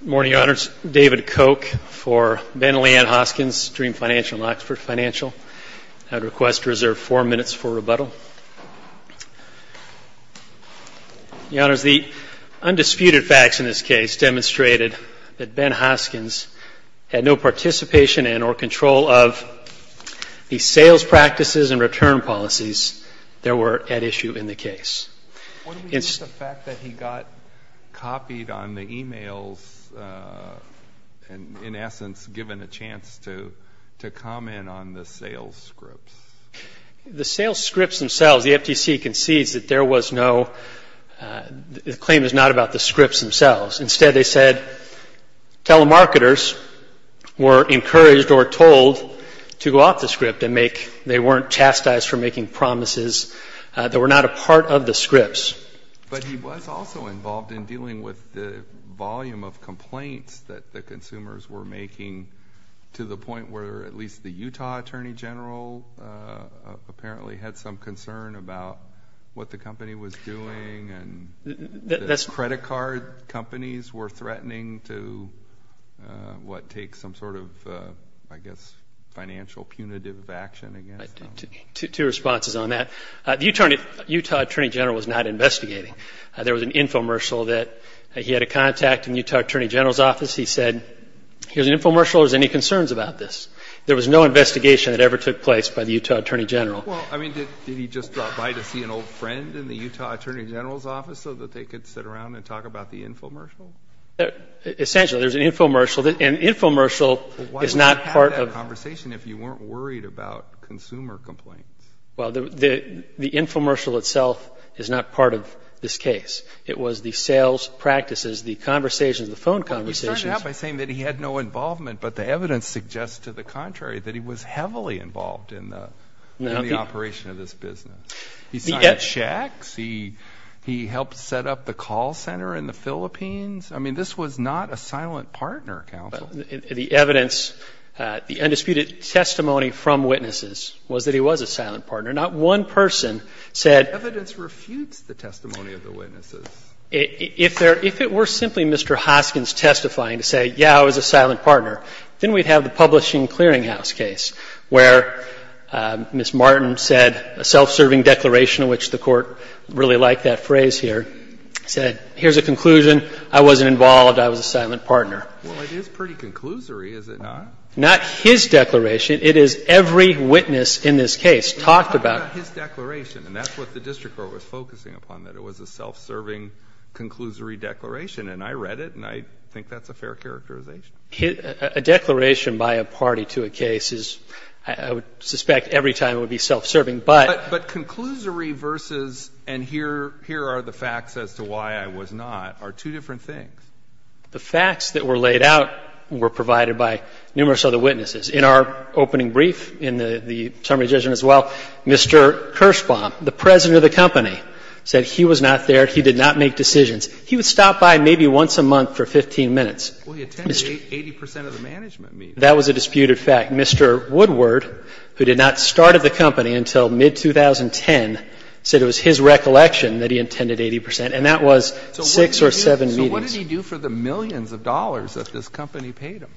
Good morning, Your Honors. David Koch for Ben Leanne Hoskins, Dream Financial and Oxford Financial. I would request to reserve four minutes for rebuttal. Your Honors, the undisputed facts in this case demonstrated that Ben Hoskins had no participation and or control of the sales practices and return policies that were at issue in the case. What do we mean by the fact that he got copied on the e-mails and in essence given a chance to comment on the sales scripts? The sales scripts themselves, the FTC concedes that there was no, the claim is not about the scripts themselves. Instead they said telemarketers were encouraged or told to go off the script and make, they weren't chastised for making promises that were not a part of the scripts. But he was also involved in dealing with the volume of complaints that the consumers were making to the point where at least the Utah Attorney General apparently had some concern about what the company was doing and the credit card companies were threatening to what takes some sort of I guess financial punitive action against them. Two responses on that. The Utah Attorney General was not investigating. There was an infomercial that he had a contact in the Utah Attorney General's office. He said, here's an infomercial, are there any concerns about this? There was no investigation that ever took place by the Utah Attorney General. Well, I mean, did he just drop by to see an old friend in the Utah Attorney General's office so that they could sit around and talk about the infomercial? Essentially, there's an infomercial. An infomercial is not part of... Why would you have that conversation if you weren't worried about consumer complaints? Well, the infomercial itself is not part of this case. It was the sales practices, the conversations, the phone conversations. Well, he started out by saying that he had no involvement, but the evidence suggests to the contrary that he was heavily involved in the... In the operation of this business. He signed checks. He helped set up the call center in the Philippines. I mean, this was not a silent partner counsel. The evidence, the undisputed testimony from witnesses was that he was a silent partner. Not one person said... Evidence refutes the testimony of the witnesses. If it were simply Mr. Hoskins testifying to say, yeah, I was a silent partner, then we'd have the publishing clearinghouse case where Ms. Martin said a self-serving declaration, which the Court really liked that phrase here, said, here's a conclusion. I wasn't involved. I was a silent partner. Well, it is pretty conclusory, is it not? Not his declaration. It is every witness in this case talked about... Well, not his declaration, and that's what the district court was focusing upon, that it was a self-serving, conclusory declaration. And I read it, and I think that's a fair characterization. A declaration by a party to a case is, I would suspect every time it would be self-serving, but... But conclusory versus, and here are the facts as to why I was not, are two different things. The facts that were laid out were provided by numerous other witnesses. In our opening brief, in the testimony of the judge as well, Mr. Kirschbaum, the president of the company, said he was not there. He did not make decisions. He would stop by maybe once a month for 15 minutes. Well, he attended 80 percent of the management meetings. That was a disputed fact. Mr. Woodward, who did not start at the company until mid-2010, said it was his recollection that he attended 80 percent, and that was six or seven meetings. So what did he do for the millions of dollars that this company paid him?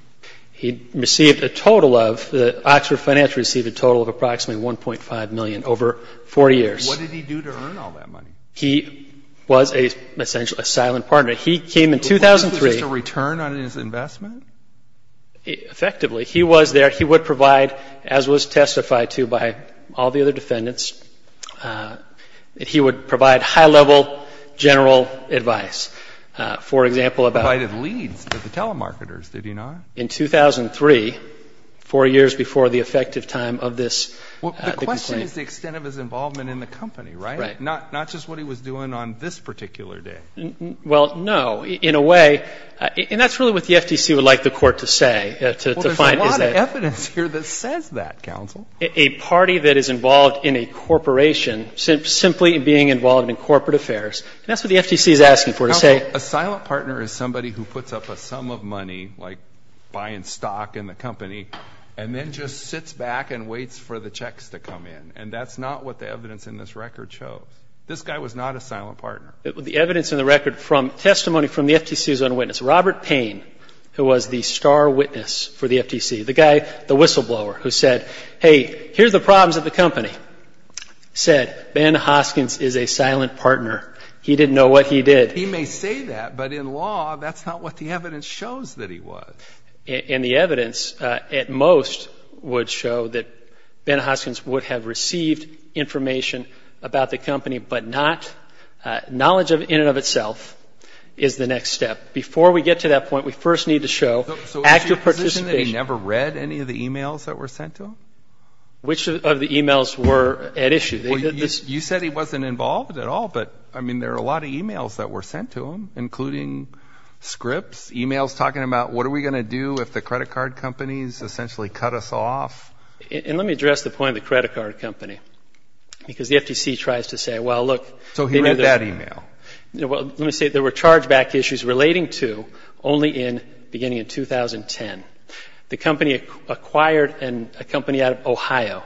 He received a total of, the Oxford Financial received a total of approximately $1.5 million over four years. What did he do to earn all that money? He was essentially a silent partner. He came in 2003. Was this a return on his investment? Effectively. He was there. He would provide, as was testified to by all the other defendants, he would provide high-level general advice. For example, about... He provided leads to the telemarketers, did he not? In 2003, four years before the effective time of this complaint. Well, the question is the extent of his involvement in the company, right? Right. Not just what he was doing on this particular day. Well, no. In a way, and that's really what the FTC would like the court to say. Well, there's a lot of evidence here that says that, counsel. A party that is involved in a corporation simply being involved in corporate affairs. And that's what the FTC is asking for, to say... Counsel, a silent partner is somebody who puts up a sum of money, like buying stock in the company, and then just sits back and waits for the checks to come in. And that's not what the evidence in this record shows. This guy was not a silent partner. The evidence in the record from testimony from the FTC's own witness, Robert Payne, who was the star witness for the FTC, the guy, the whistleblower, who said, hey, here are the problems of the company, said Ben Hoskins is a silent partner. He didn't know what he did. He may say that, but in law, that's not what the evidence shows that he was. And the evidence, at most, would show that Ben Hoskins would have received information about the company, but not knowledge in and of itself is the next step. Before we get to that point, we first need to show active participation. So is he in a position that he never read any of the e-mails that were sent to him? Which of the e-mails were at issue? You said he wasn't involved at all, but, I mean, there are a lot of e-mails that were sent to him, including scripts, e-mails talking about what are we going to do if the credit card companies essentially cut us off. And let me address the point of the credit card company, because the FTC tries to say, well, look. So he read that e-mail. Let me say there were chargeback issues relating to only beginning in 2010. The company acquired a company out of Ohio,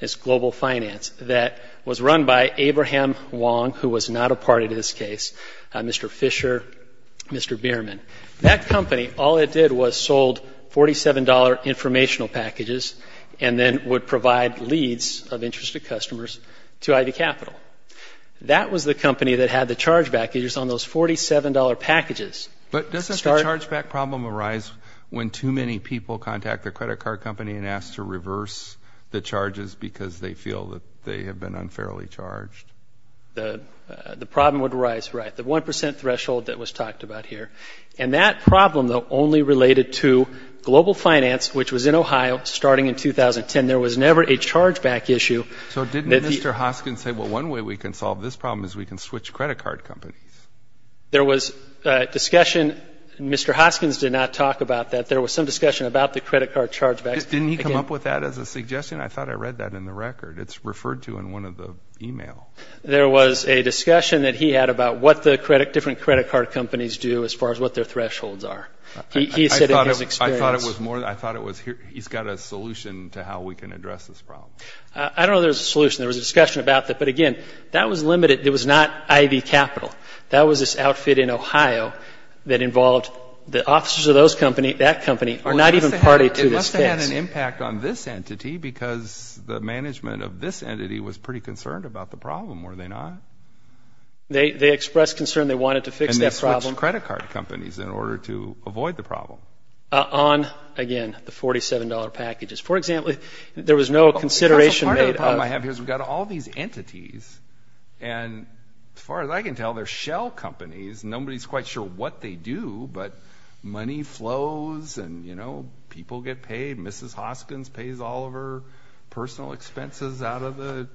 it's Global Finance, that was run by Abraham Wong, who was not a part of this case, Mr. Fisher, Mr. Bierman. That company, all it did was sold $47 informational packages and then would provide leads of interested customers to ID Capital. That was the company that had the chargeback issues on those $47 packages. But doesn't the chargeback problem arise when too many people contact their credit card company and ask to reverse the charges because they feel that they have been unfairly charged? The problem would arise, right, the 1% threshold that was talked about here. And that problem, though, only related to Global Finance, which was in Ohio starting in 2010. There was never a chargeback issue. So didn't Mr. Hoskins say, well, one way we can solve this problem is we can switch credit card companies? There was discussion. Mr. Hoskins did not talk about that. There was some discussion about the credit card chargebacks. Didn't he come up with that as a suggestion? I thought I read that in the record. It's referred to in one of the e-mails. There was a discussion that he had about what the different credit card companies do as far as what their thresholds are. He said in his experience. I thought it was he's got a solution to how we can address this problem. I don't know if there's a solution. There was a discussion about that. But, again, that was limited. It was not ID Capital. That was this outfit in Ohio that involved the officers of those companies. That company, not even party to this case. It must have had an impact on this entity because the management of this entity was pretty concerned about the problem, were they not? They expressed concern they wanted to fix that problem. And they switched credit card companies in order to avoid the problem. On, again, the $47 packages. For example, there was no consideration made of. Part of the problem I have here is we've got all these entities. And as far as I can tell, they're shell companies. Nobody's quite sure what they do. But money flows and, you know, people get paid. Mrs. Hoskins pays all of her personal expenses out of the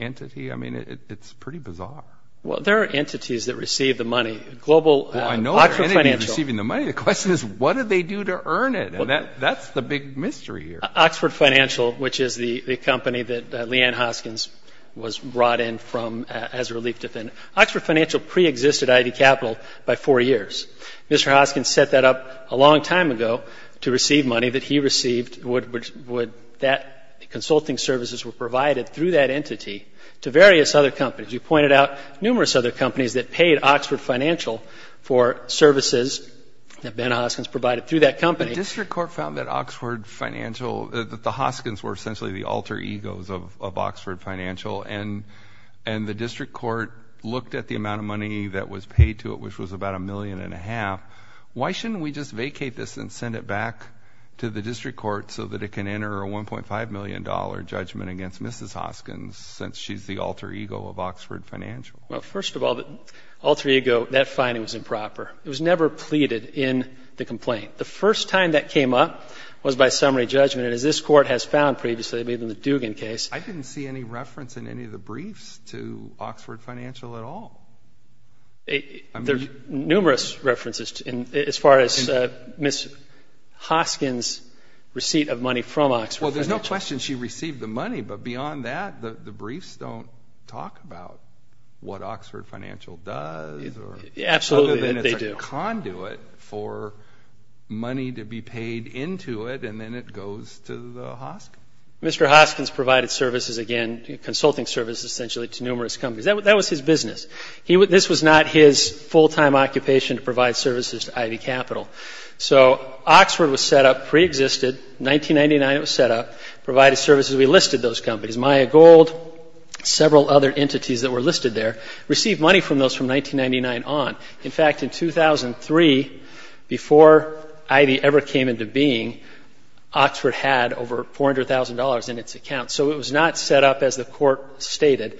entity. I mean, it's pretty bizarre. Well, there are entities that receive the money. Global Oxford Financial. Well, I know there are entities receiving the money. The question is what do they do to earn it? And that's the big mystery here. Oxford Financial, which is the company that Leanne Hoskins was brought in from as a relief defendant. Oxford Financial preexisted ID Capital by four years. Mr. Hoskins set that up a long time ago to receive money that he received. Consulting services were provided through that entity to various other companies. You pointed out numerous other companies that paid Oxford Financial for services that Ben Hoskins provided through that company. The district court found that Oxford Financial, that the Hoskins were essentially the alter egos of Oxford Financial. And the district court looked at the amount of money that was paid to it, which was about a million and a half. Why shouldn't we just vacate this and send it back to the district court so that it can enter a $1.5 million judgment against Mrs. Hoskins since she's the alter ego of Oxford Financial? Well, first of all, the alter ego, that finding was improper. It was never pleaded in the complaint. The first time that came up was by summary judgment, and as this court has found previously, maybe in the Dugan case. I didn't see any reference in any of the briefs to Oxford Financial at all. There are numerous references as far as Ms. Hoskins' receipt of money from Oxford Financial. Well, there's no question she received the money, but beyond that the briefs don't talk about what Oxford Financial does. Absolutely, they do. Other than it's a conduit for money to be paid into it, and then it goes to the Hoskins. Mr. Hoskins provided services again, consulting services essentially, to numerous companies. That was his business. This was not his full-time occupation to provide services to Ivy Capital. So Oxford was set up, preexisted, 1999 it was set up, provided services. We listed those companies, Maya Gold, several other entities that were listed there, received money from those from 1999 on. In fact, in 2003, before Ivy ever came into being, Oxford had over $400,000 in its account. So it was not set up, as the court stated,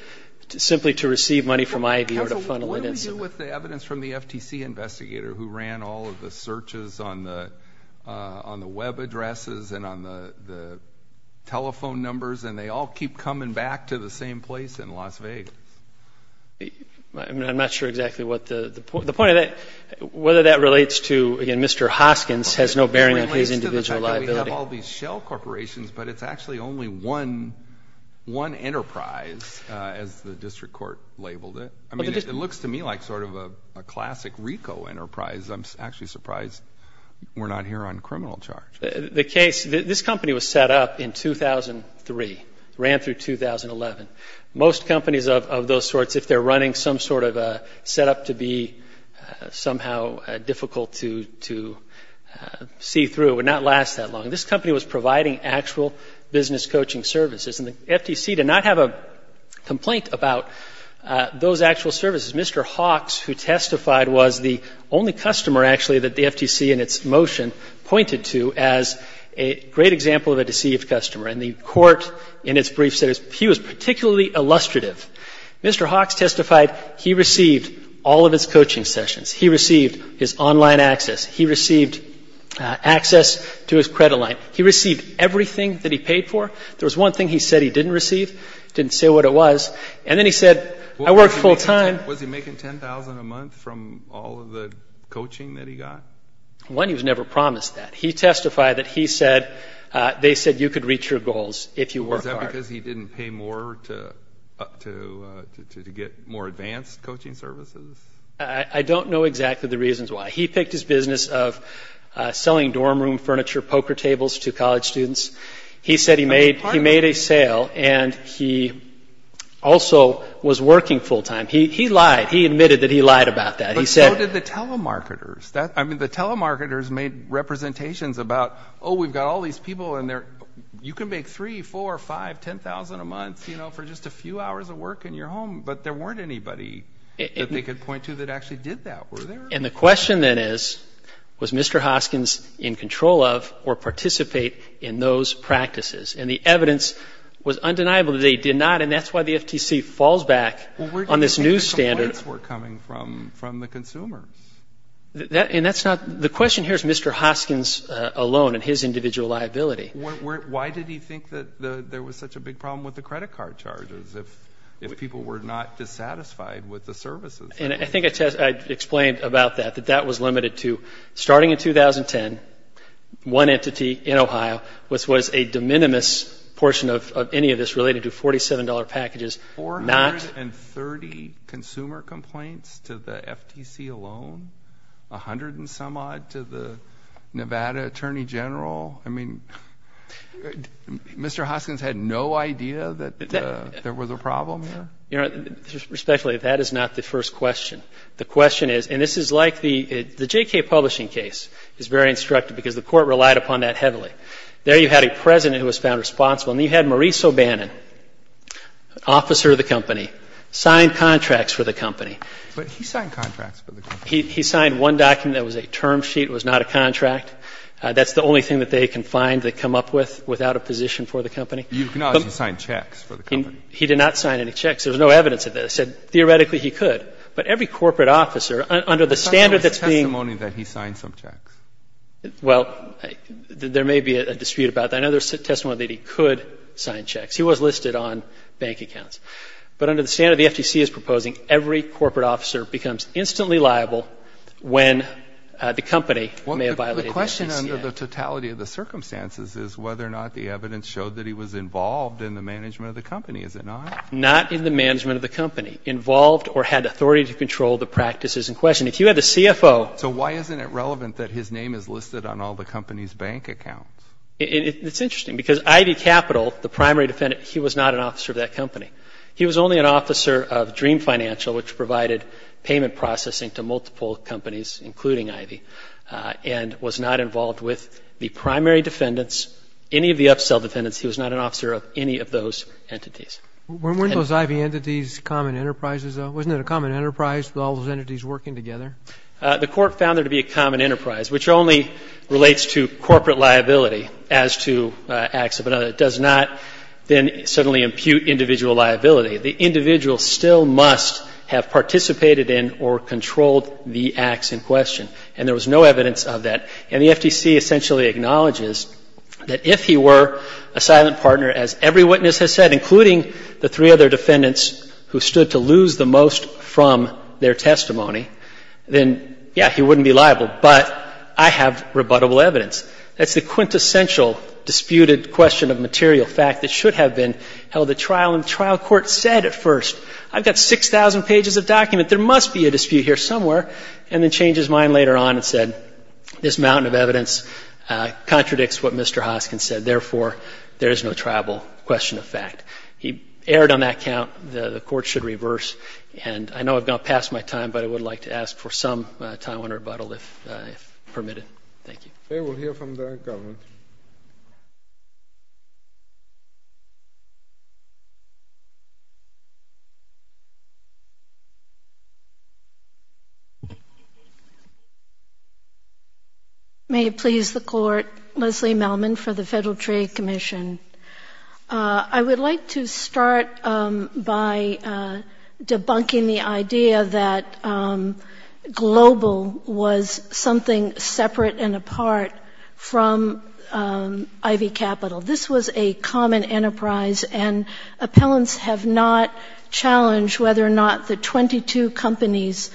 simply to receive money from Ivy or to funnel it into them. What do we do with the evidence from the FTC investigator who ran all of the searches on the web addresses and on the telephone numbers, and they all keep coming back to the same place in Las Vegas? I'm not sure exactly what the point of that, whether that relates to, again, Mr. Hoskins has no bearing on his individual liability. It relates to the fact that we have all these shell corporations, but it's actually only one enterprise, as the district court labeled it. I mean, it looks to me like sort of a classic RICO enterprise. I'm actually surprised we're not here on criminal charge. The case, this company was set up in 2003, ran through 2011. Most companies of those sorts, if they're running some sort of a setup to be somehow difficult to see through, it would not last that long. This company was providing actual business coaching services. And the FTC did not have a complaint about those actual services. Mr. Hawks, who testified, was the only customer, actually, that the FTC, in its motion, pointed to as a great example of a deceived customer. And the court, in its brief, said he was particularly illustrative. Mr. Hawks testified he received all of his coaching sessions. He received his online access. He received access to his credit line. He received everything that he paid for. There was one thing he said he didn't receive. He didn't say what it was. And then he said, I work full time. Was he making $10,000 a month from all of the coaching that he got? One, he was never promised that. He testified that they said you could reach your goals if you work hard. Was that because he didn't pay more to get more advanced coaching services? I don't know exactly the reasons why. He picked his business of selling dorm room furniture poker tables to college students. He said he made a sale, and he also was working full time. He lied. He admitted that he lied about that. But so did the telemarketers. I mean, the telemarketers made representations about, oh, we've got all these people in there. You can make $3,000, $4,000, $5,000, $10,000 a month, you know, for just a few hours of work in your home, but there weren't anybody that they could point to that actually did that, were there? And the question then is, was Mr. Hoskins in control of or participate in those practices? And the evidence was undeniable that they did not, and that's why the FTC falls back on this new standard. from the consumer. And that's not the question here is Mr. Hoskins alone and his individual liability. Why did he think that there was such a big problem with the credit card charges if people were not dissatisfied with the services? And I think I explained about that, that that was limited to starting in 2010, one entity in Ohio was a de minimis portion of any of this related to $47 packages. Four hundred and thirty consumer complaints to the FTC alone? A hundred and some odd to the Nevada Attorney General? I mean, Mr. Hoskins had no idea that there was a problem there? You know, respectfully, that is not the first question. The question is, and this is like the JK Publishing case is very instructive because the court relied upon that heavily. There you had a president who was found responsible, and you had Maurice O'Bannon, an officer of the company, sign contracts for the company. But he signed contracts for the company. He signed one document that was a term sheet. It was not a contract. That's the only thing that they can find to come up with without a position for the company. You acknowledge he signed checks for the company. He did not sign any checks. There was no evidence of this. Theoretically, he could. But every corporate officer under the standard that's being ---- It's not the only testimony that he signed some checks. Well, there may be a dispute about that. There may be another testimony that he could sign checks. He was listed on bank accounts. But under the standard the FTC is proposing, every corporate officer becomes instantly liable when the company may have violated the FTCA. The question under the totality of the circumstances is whether or not the evidence showed that he was involved in the management of the company, is it not? Not in the management of the company. Involved or had authority to control the practices in question. If you had the CFO ---- So why isn't it relevant that his name is listed on all the company's bank accounts? It's interesting because Ivy Capital, the primary defendant, he was not an officer of that company. He was only an officer of Dream Financial, which provided payment processing to multiple companies, including Ivy, and was not involved with the primary defendants, any of the upsell defendants. He was not an officer of any of those entities. Weren't those Ivy entities common enterprises, though? Wasn't it a common enterprise with all those entities working together? The Court found there to be a common enterprise, which only relates to corporate liability as to acts of another. It does not then suddenly impute individual liability. The individual still must have participated in or controlled the acts in question. And there was no evidence of that. And the FTC essentially acknowledges that if he were a silent partner, as every witness has said, including the three other defendants who stood to lose the most from their testimony, then, yeah, he wouldn't be liable. But I have rebuttable evidence. That's the quintessential disputed question of material fact that should have been held at trial. And the trial court said at first, I've got 6,000 pages of document. There must be a dispute here somewhere. And then changed his mind later on and said, this mountain of evidence contradicts what Mr. Hoskin said. Therefore, there is no tribal question of fact. He erred on that count. The Court should reverse. And I know I've gone past my time, but I would like to ask for some time on rebuttal if permitted. Thank you. We'll hear from the government. Thank you. May it please the Court, Leslie Melman for the Federal Trade Commission. I would like to start by debunking the idea that global was something separate and apart from Ivy Capital. This was a common enterprise, and appellants have not challenged whether or not the 22 companies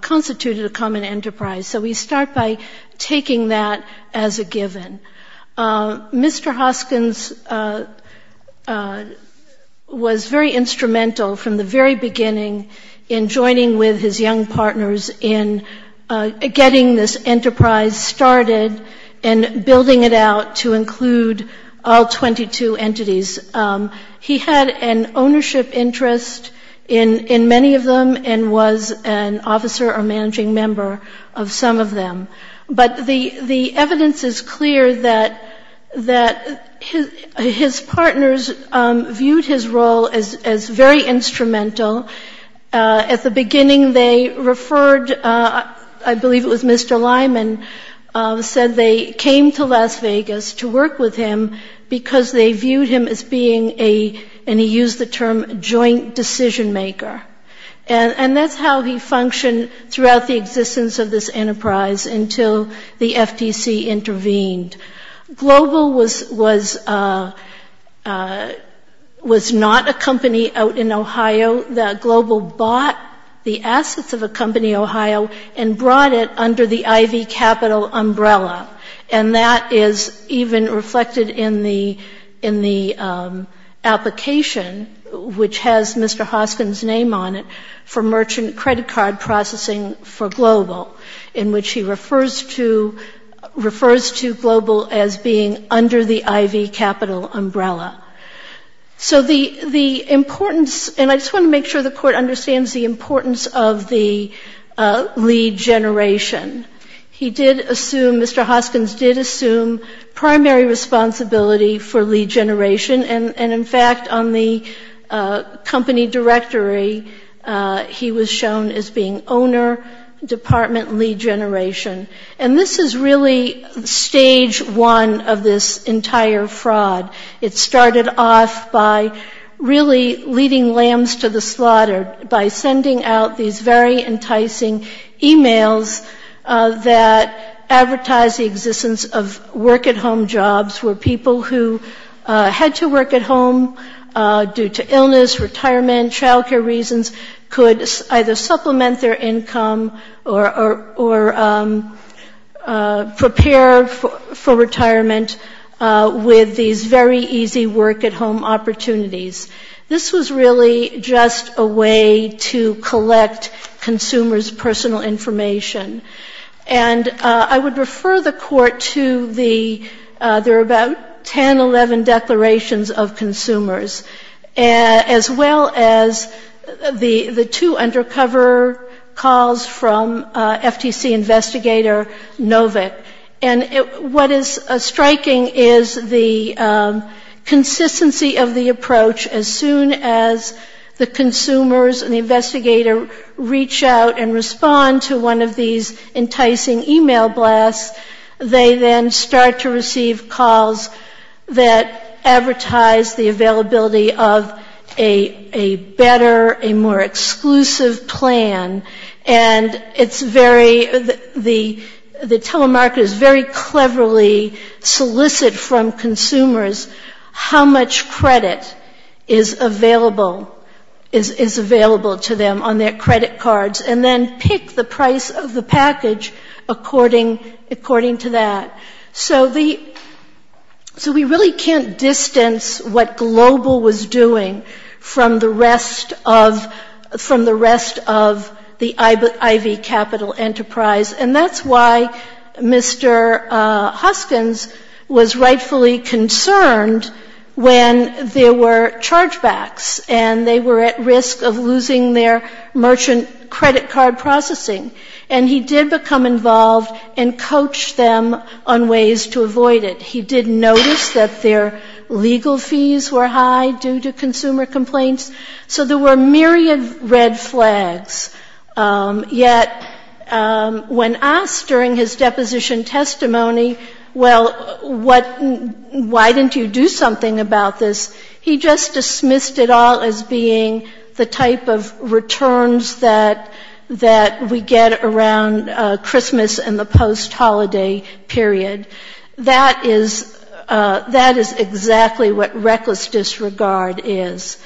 constituted a common enterprise. So we start by taking that as a given. Mr. Hoskins was very instrumental from the very beginning in joining with his young partners in getting this enterprise started and building it out to include all 22 entities. He had an ownership interest in many of them and was an officer or managing member of some of them. But the evidence is clear that his partners viewed his role as very instrumental. At the beginning, they referred, I believe it was Mr. Lyman said they came to Las Vegas to work with him because they viewed him as being a, and he used the term, joint decision maker. And that's how he functioned throughout the existence of this enterprise until the FTC intervened. Global was not a company out in Ohio. Global bought the assets of a company in Ohio and brought it under the Ivy Capital umbrella. And that is even reflected in the application, which has Mr. Hoskins' name on it, for merchant credit card processing for Global, in which he refers to Global as being under the Ivy Capital umbrella. So the importance, and I just want to make sure the Court understands the importance of the lead generation. He did assume, Mr. Hoskins did assume primary responsibility for lead generation. And in fact, on the company directory, he was shown as being owner, department lead generation. And this is really stage one of this entire fraud. It started off by really leading lambs to the slaughter by sending out these very enticing e-mails that advertised the existence of work-at-home jobs, where people who had to work at home due to illness, retirement, childcare reasons, could either supplement their income or prepare for retirement with these very easy work-at-home opportunities. This was really just a way to collect consumers' personal information. And I would refer the Court to the, there are about 10, 11 declarations of consumers, as well as the two undercover calls from FTC investigator Novick. And what is striking is the consistency of the approach. As soon as the consumers and the investigator reach out and respond to one of these enticing e-mail blasts, they then start to receive calls that advertise the availability of a better, a more exclusive plan. And it's very, the telemarketer is very cleverly solicit from consumers how much credit is available, is available to them on their credit cards, and then pick the price of the package according to that. So the, so we really can't distance what Global was doing from the rest of, from the rest of the IV capital enterprise. And that's why Mr. Hoskins was rightfully concerned when there were chargebacks, and they were at risk of losing their merchant credit card processing. And he did become involved and coached them on ways to avoid it. He did notice that their legal fees were high due to consumer complaints. So there were a myriad of red flags. Yet when asked during his deposition testimony, well, what, why didn't you do something about this, he just dismissed it all as being the type of returns that, that we get around Christmas and the post-holiday period. That is, that is exactly what reckless disregard is.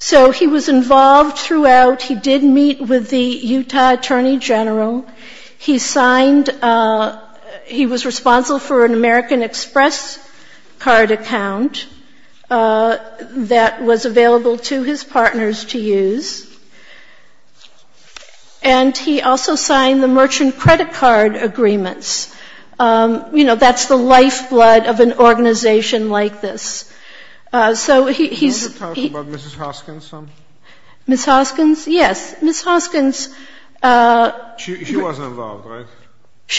So he was involved throughout. He did meet with the Utah Attorney General. He signed, he was responsible for an American Express card account that was available to his partners to use. And he also signed the merchant credit card agreements. You know, that's the lifeblood of an organization like this. So he's he's. Ms. Hoskins, yes. Ms. Hoskins. She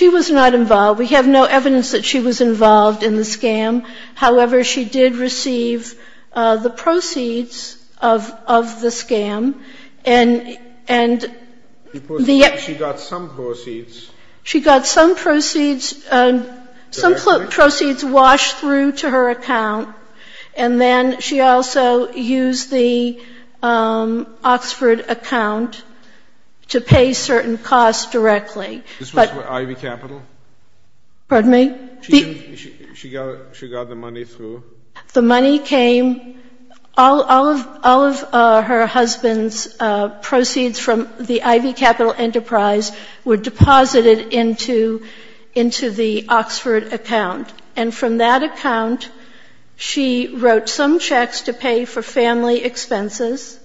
was not involved. We have no evidence that she was involved in the scam. However, she did receive the proceeds of, of the scam. And, and the. She got some proceeds. She got some proceeds, some proceeds washed through to her account. And then she also used the Oxford account to pay certain costs directly. This was for Ivy Capital? Pardon me? She got, she got the money through? The money came, all, all of, all of her husband's proceeds from the Ivy Capital Enterprise were deposited into, into the Oxford account. And from that account, she wrote some checks to pay for family expenses.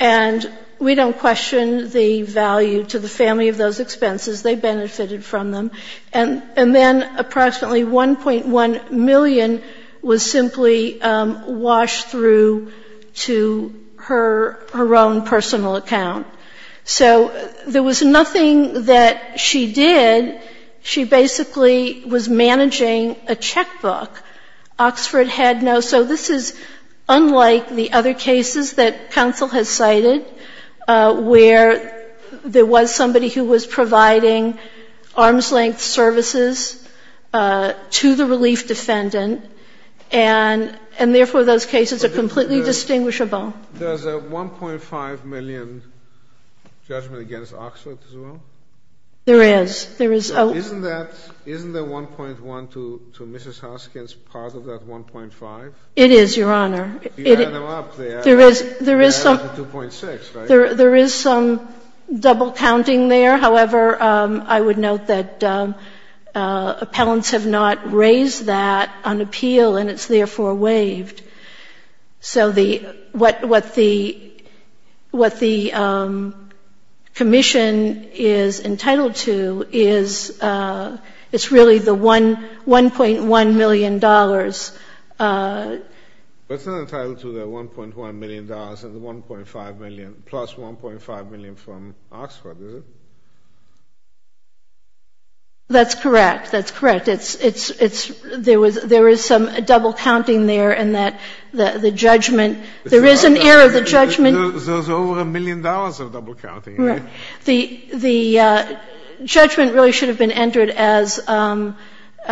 And we don't question the value to the family of those expenses. They benefited from them. And, and then approximately 1.1 million was simply washed through to her, her own personal account. So there was nothing that she did. She basically was managing a checkbook. Oxford had no. So this is unlike the other cases that counsel has cited where there was somebody who was providing arm's-length services to the relief defendant, and, and therefore those cases are completely distinguishable. There's a 1.5 million judgment against Oxford as well? There is. There is. Isn't that, isn't the 1.1 to, to Mrs. Hoskins part of that 1.5? It is, Your Honor. If you add them up, they add up to 2.6, right? There is, there is some, there is some double counting there. However, I would note that appellants have not raised that on appeal, and it's therefore waived. So the, what, what the, what the commission is entitled to is, it's really the 1, 1.1 million dollars. That's not entitled to the 1.1 million dollars and the 1.5 million, plus 1.5 million from Oxford, is it? That's correct. That's correct. It's, it's, it's, there was, there is some double counting there in that the, the judgment, there is an error, the judgment. There's over a million dollars of double counting, right? Right. The, the judgment really should have been entered as joint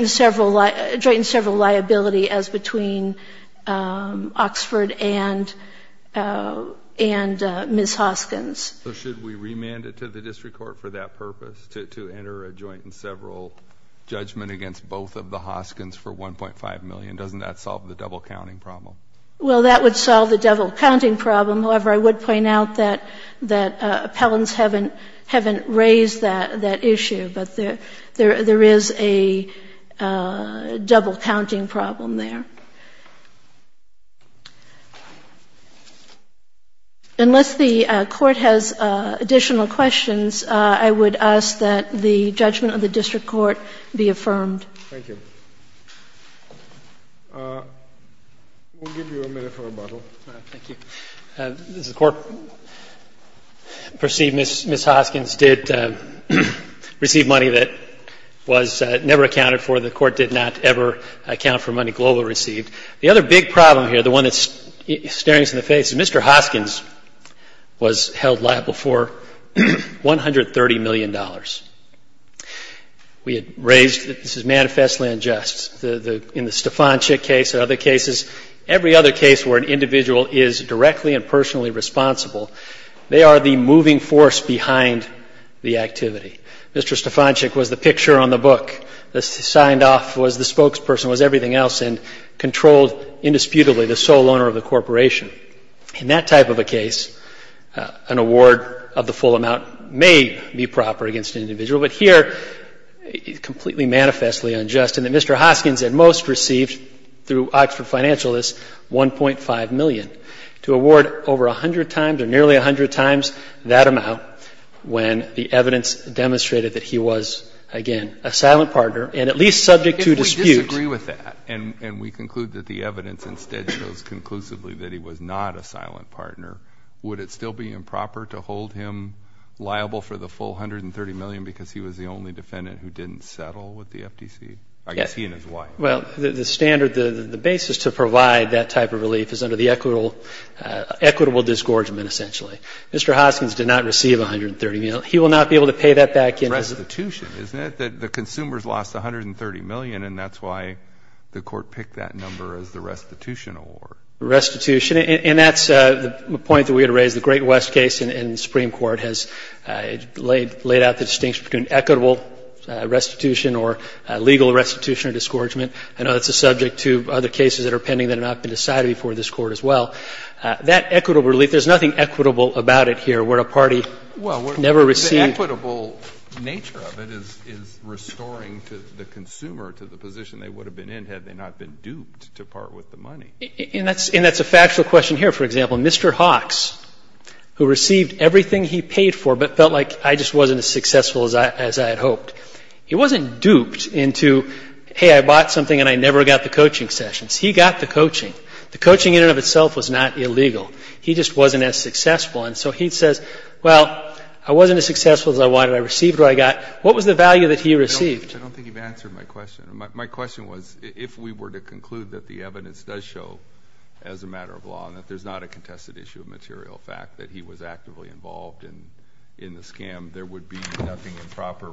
and several, joint and several liability as between Oxford and, and Mrs. Hoskins. So should we remand it to the district court for that purpose, to, to enter a joint and several judgment against both of the Hoskins for 1.5 million? Doesn't that solve the double counting problem? Well, that would solve the double counting problem. However, I would point out that, that appellants haven't, haven't raised that, that issue. But there, there, there is a double counting problem there. Unless the Court has additional questions, I would ask that the judgment of the district court be affirmed. Thank you. We'll give you a minute for rebuttal. Thank you. Does the Court perceive Ms. Hoskins did receive money that was never accounted for, the Court did not ever account for money Global received? The other big problem here, the one that's staring us in the face, is Mr. Hoskins was held liable for $130 million. We had raised, this is manifestly unjust, the, the, in the Stefanczyk case and other cases, every other case where an individual is directly and personally responsible, they are the moving force behind the activity. Mr. Stefanczyk was the picture on the book. The signed off was the spokesperson, was everything else, and controlled indisputably the sole owner of the corporation. In that type of a case, an award of the full amount may be proper against an individual. But here, it's completely manifestly unjust in that Mr. Hoskins at most received through Oxford financialists $1.5 million to award over 100 times or nearly 100 times that amount when the evidence demonstrated that he was, again, a silent partner and at least subject to dispute. If we disagree with that and we conclude that the evidence instead shows conclusively that he was not a silent partner, would it still be improper to hold him liable for the full $130 million because he was the only defendant who didn't settle with the FTC? Yes. I guess he and his wife. Well, the standard, the basis to provide that type of relief is under the equitable disgorgement essentially. Mr. Hoskins did not receive $130 million. He will not be able to pay that back. Restitution, isn't it? The consumers lost $130 million and that's why the Court picked that number as the restitution award. Restitution. And that's the point that we had raised. The Great West case in the Supreme Court has laid out the distinction between equitable restitution or legal restitution or disgorgement. I know that's a subject to other cases that are pending that have not been decided before this Court as well. That equitable relief, there's nothing equitable about it here where a party never received. Well, the equitable nature of it is restoring the consumer to the position they would have been in had they not been duped to part with the money. And that's a factual question here. For example, Mr. Hawks, who received everything he paid for but felt like I just wasn't as successful as I had hoped, he wasn't duped into, hey, I bought something and I never got the coaching sessions. He got the coaching. The coaching in and of itself was not illegal. He just wasn't as successful. And so he says, well, I wasn't as successful as I wanted. I received what I got. What was the value that he received? I don't think you've answered my question. My question was if we were to conclude that the evidence does show as a matter of law and that there's not a contested issue of material fact that he was actively involved in the scam, there would be nothing improper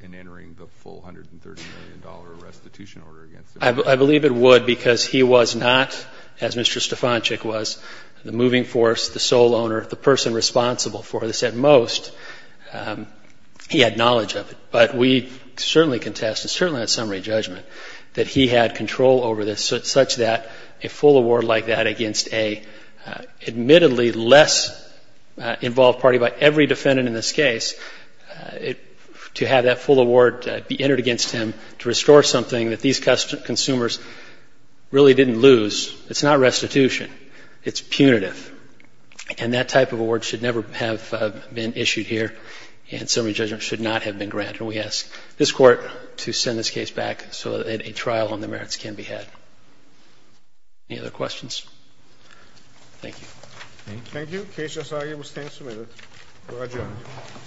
in entering the full $130 million restitution order against him. I believe it would because he was not, as Mr. Stefanczyk was, the moving force, the sole owner, the person responsible for this at most. He had knowledge of it. But we certainly contested, certainly in that summary judgment, that he had control over this such that a full award like that against an admittedly less involved party by every defendant in this case, to have that full award be entered against him to restore something that these consumers really didn't lose. It's not restitution. It's punitive. And that type of award should never have been issued here, and summary judgment should not have been granted. And we ask this Court to send this case back so that a trial on the merits can be had. Any other questions? Thank you. Thank you. Thank you. Case just argued. We'll stand submitted. We're adjourned.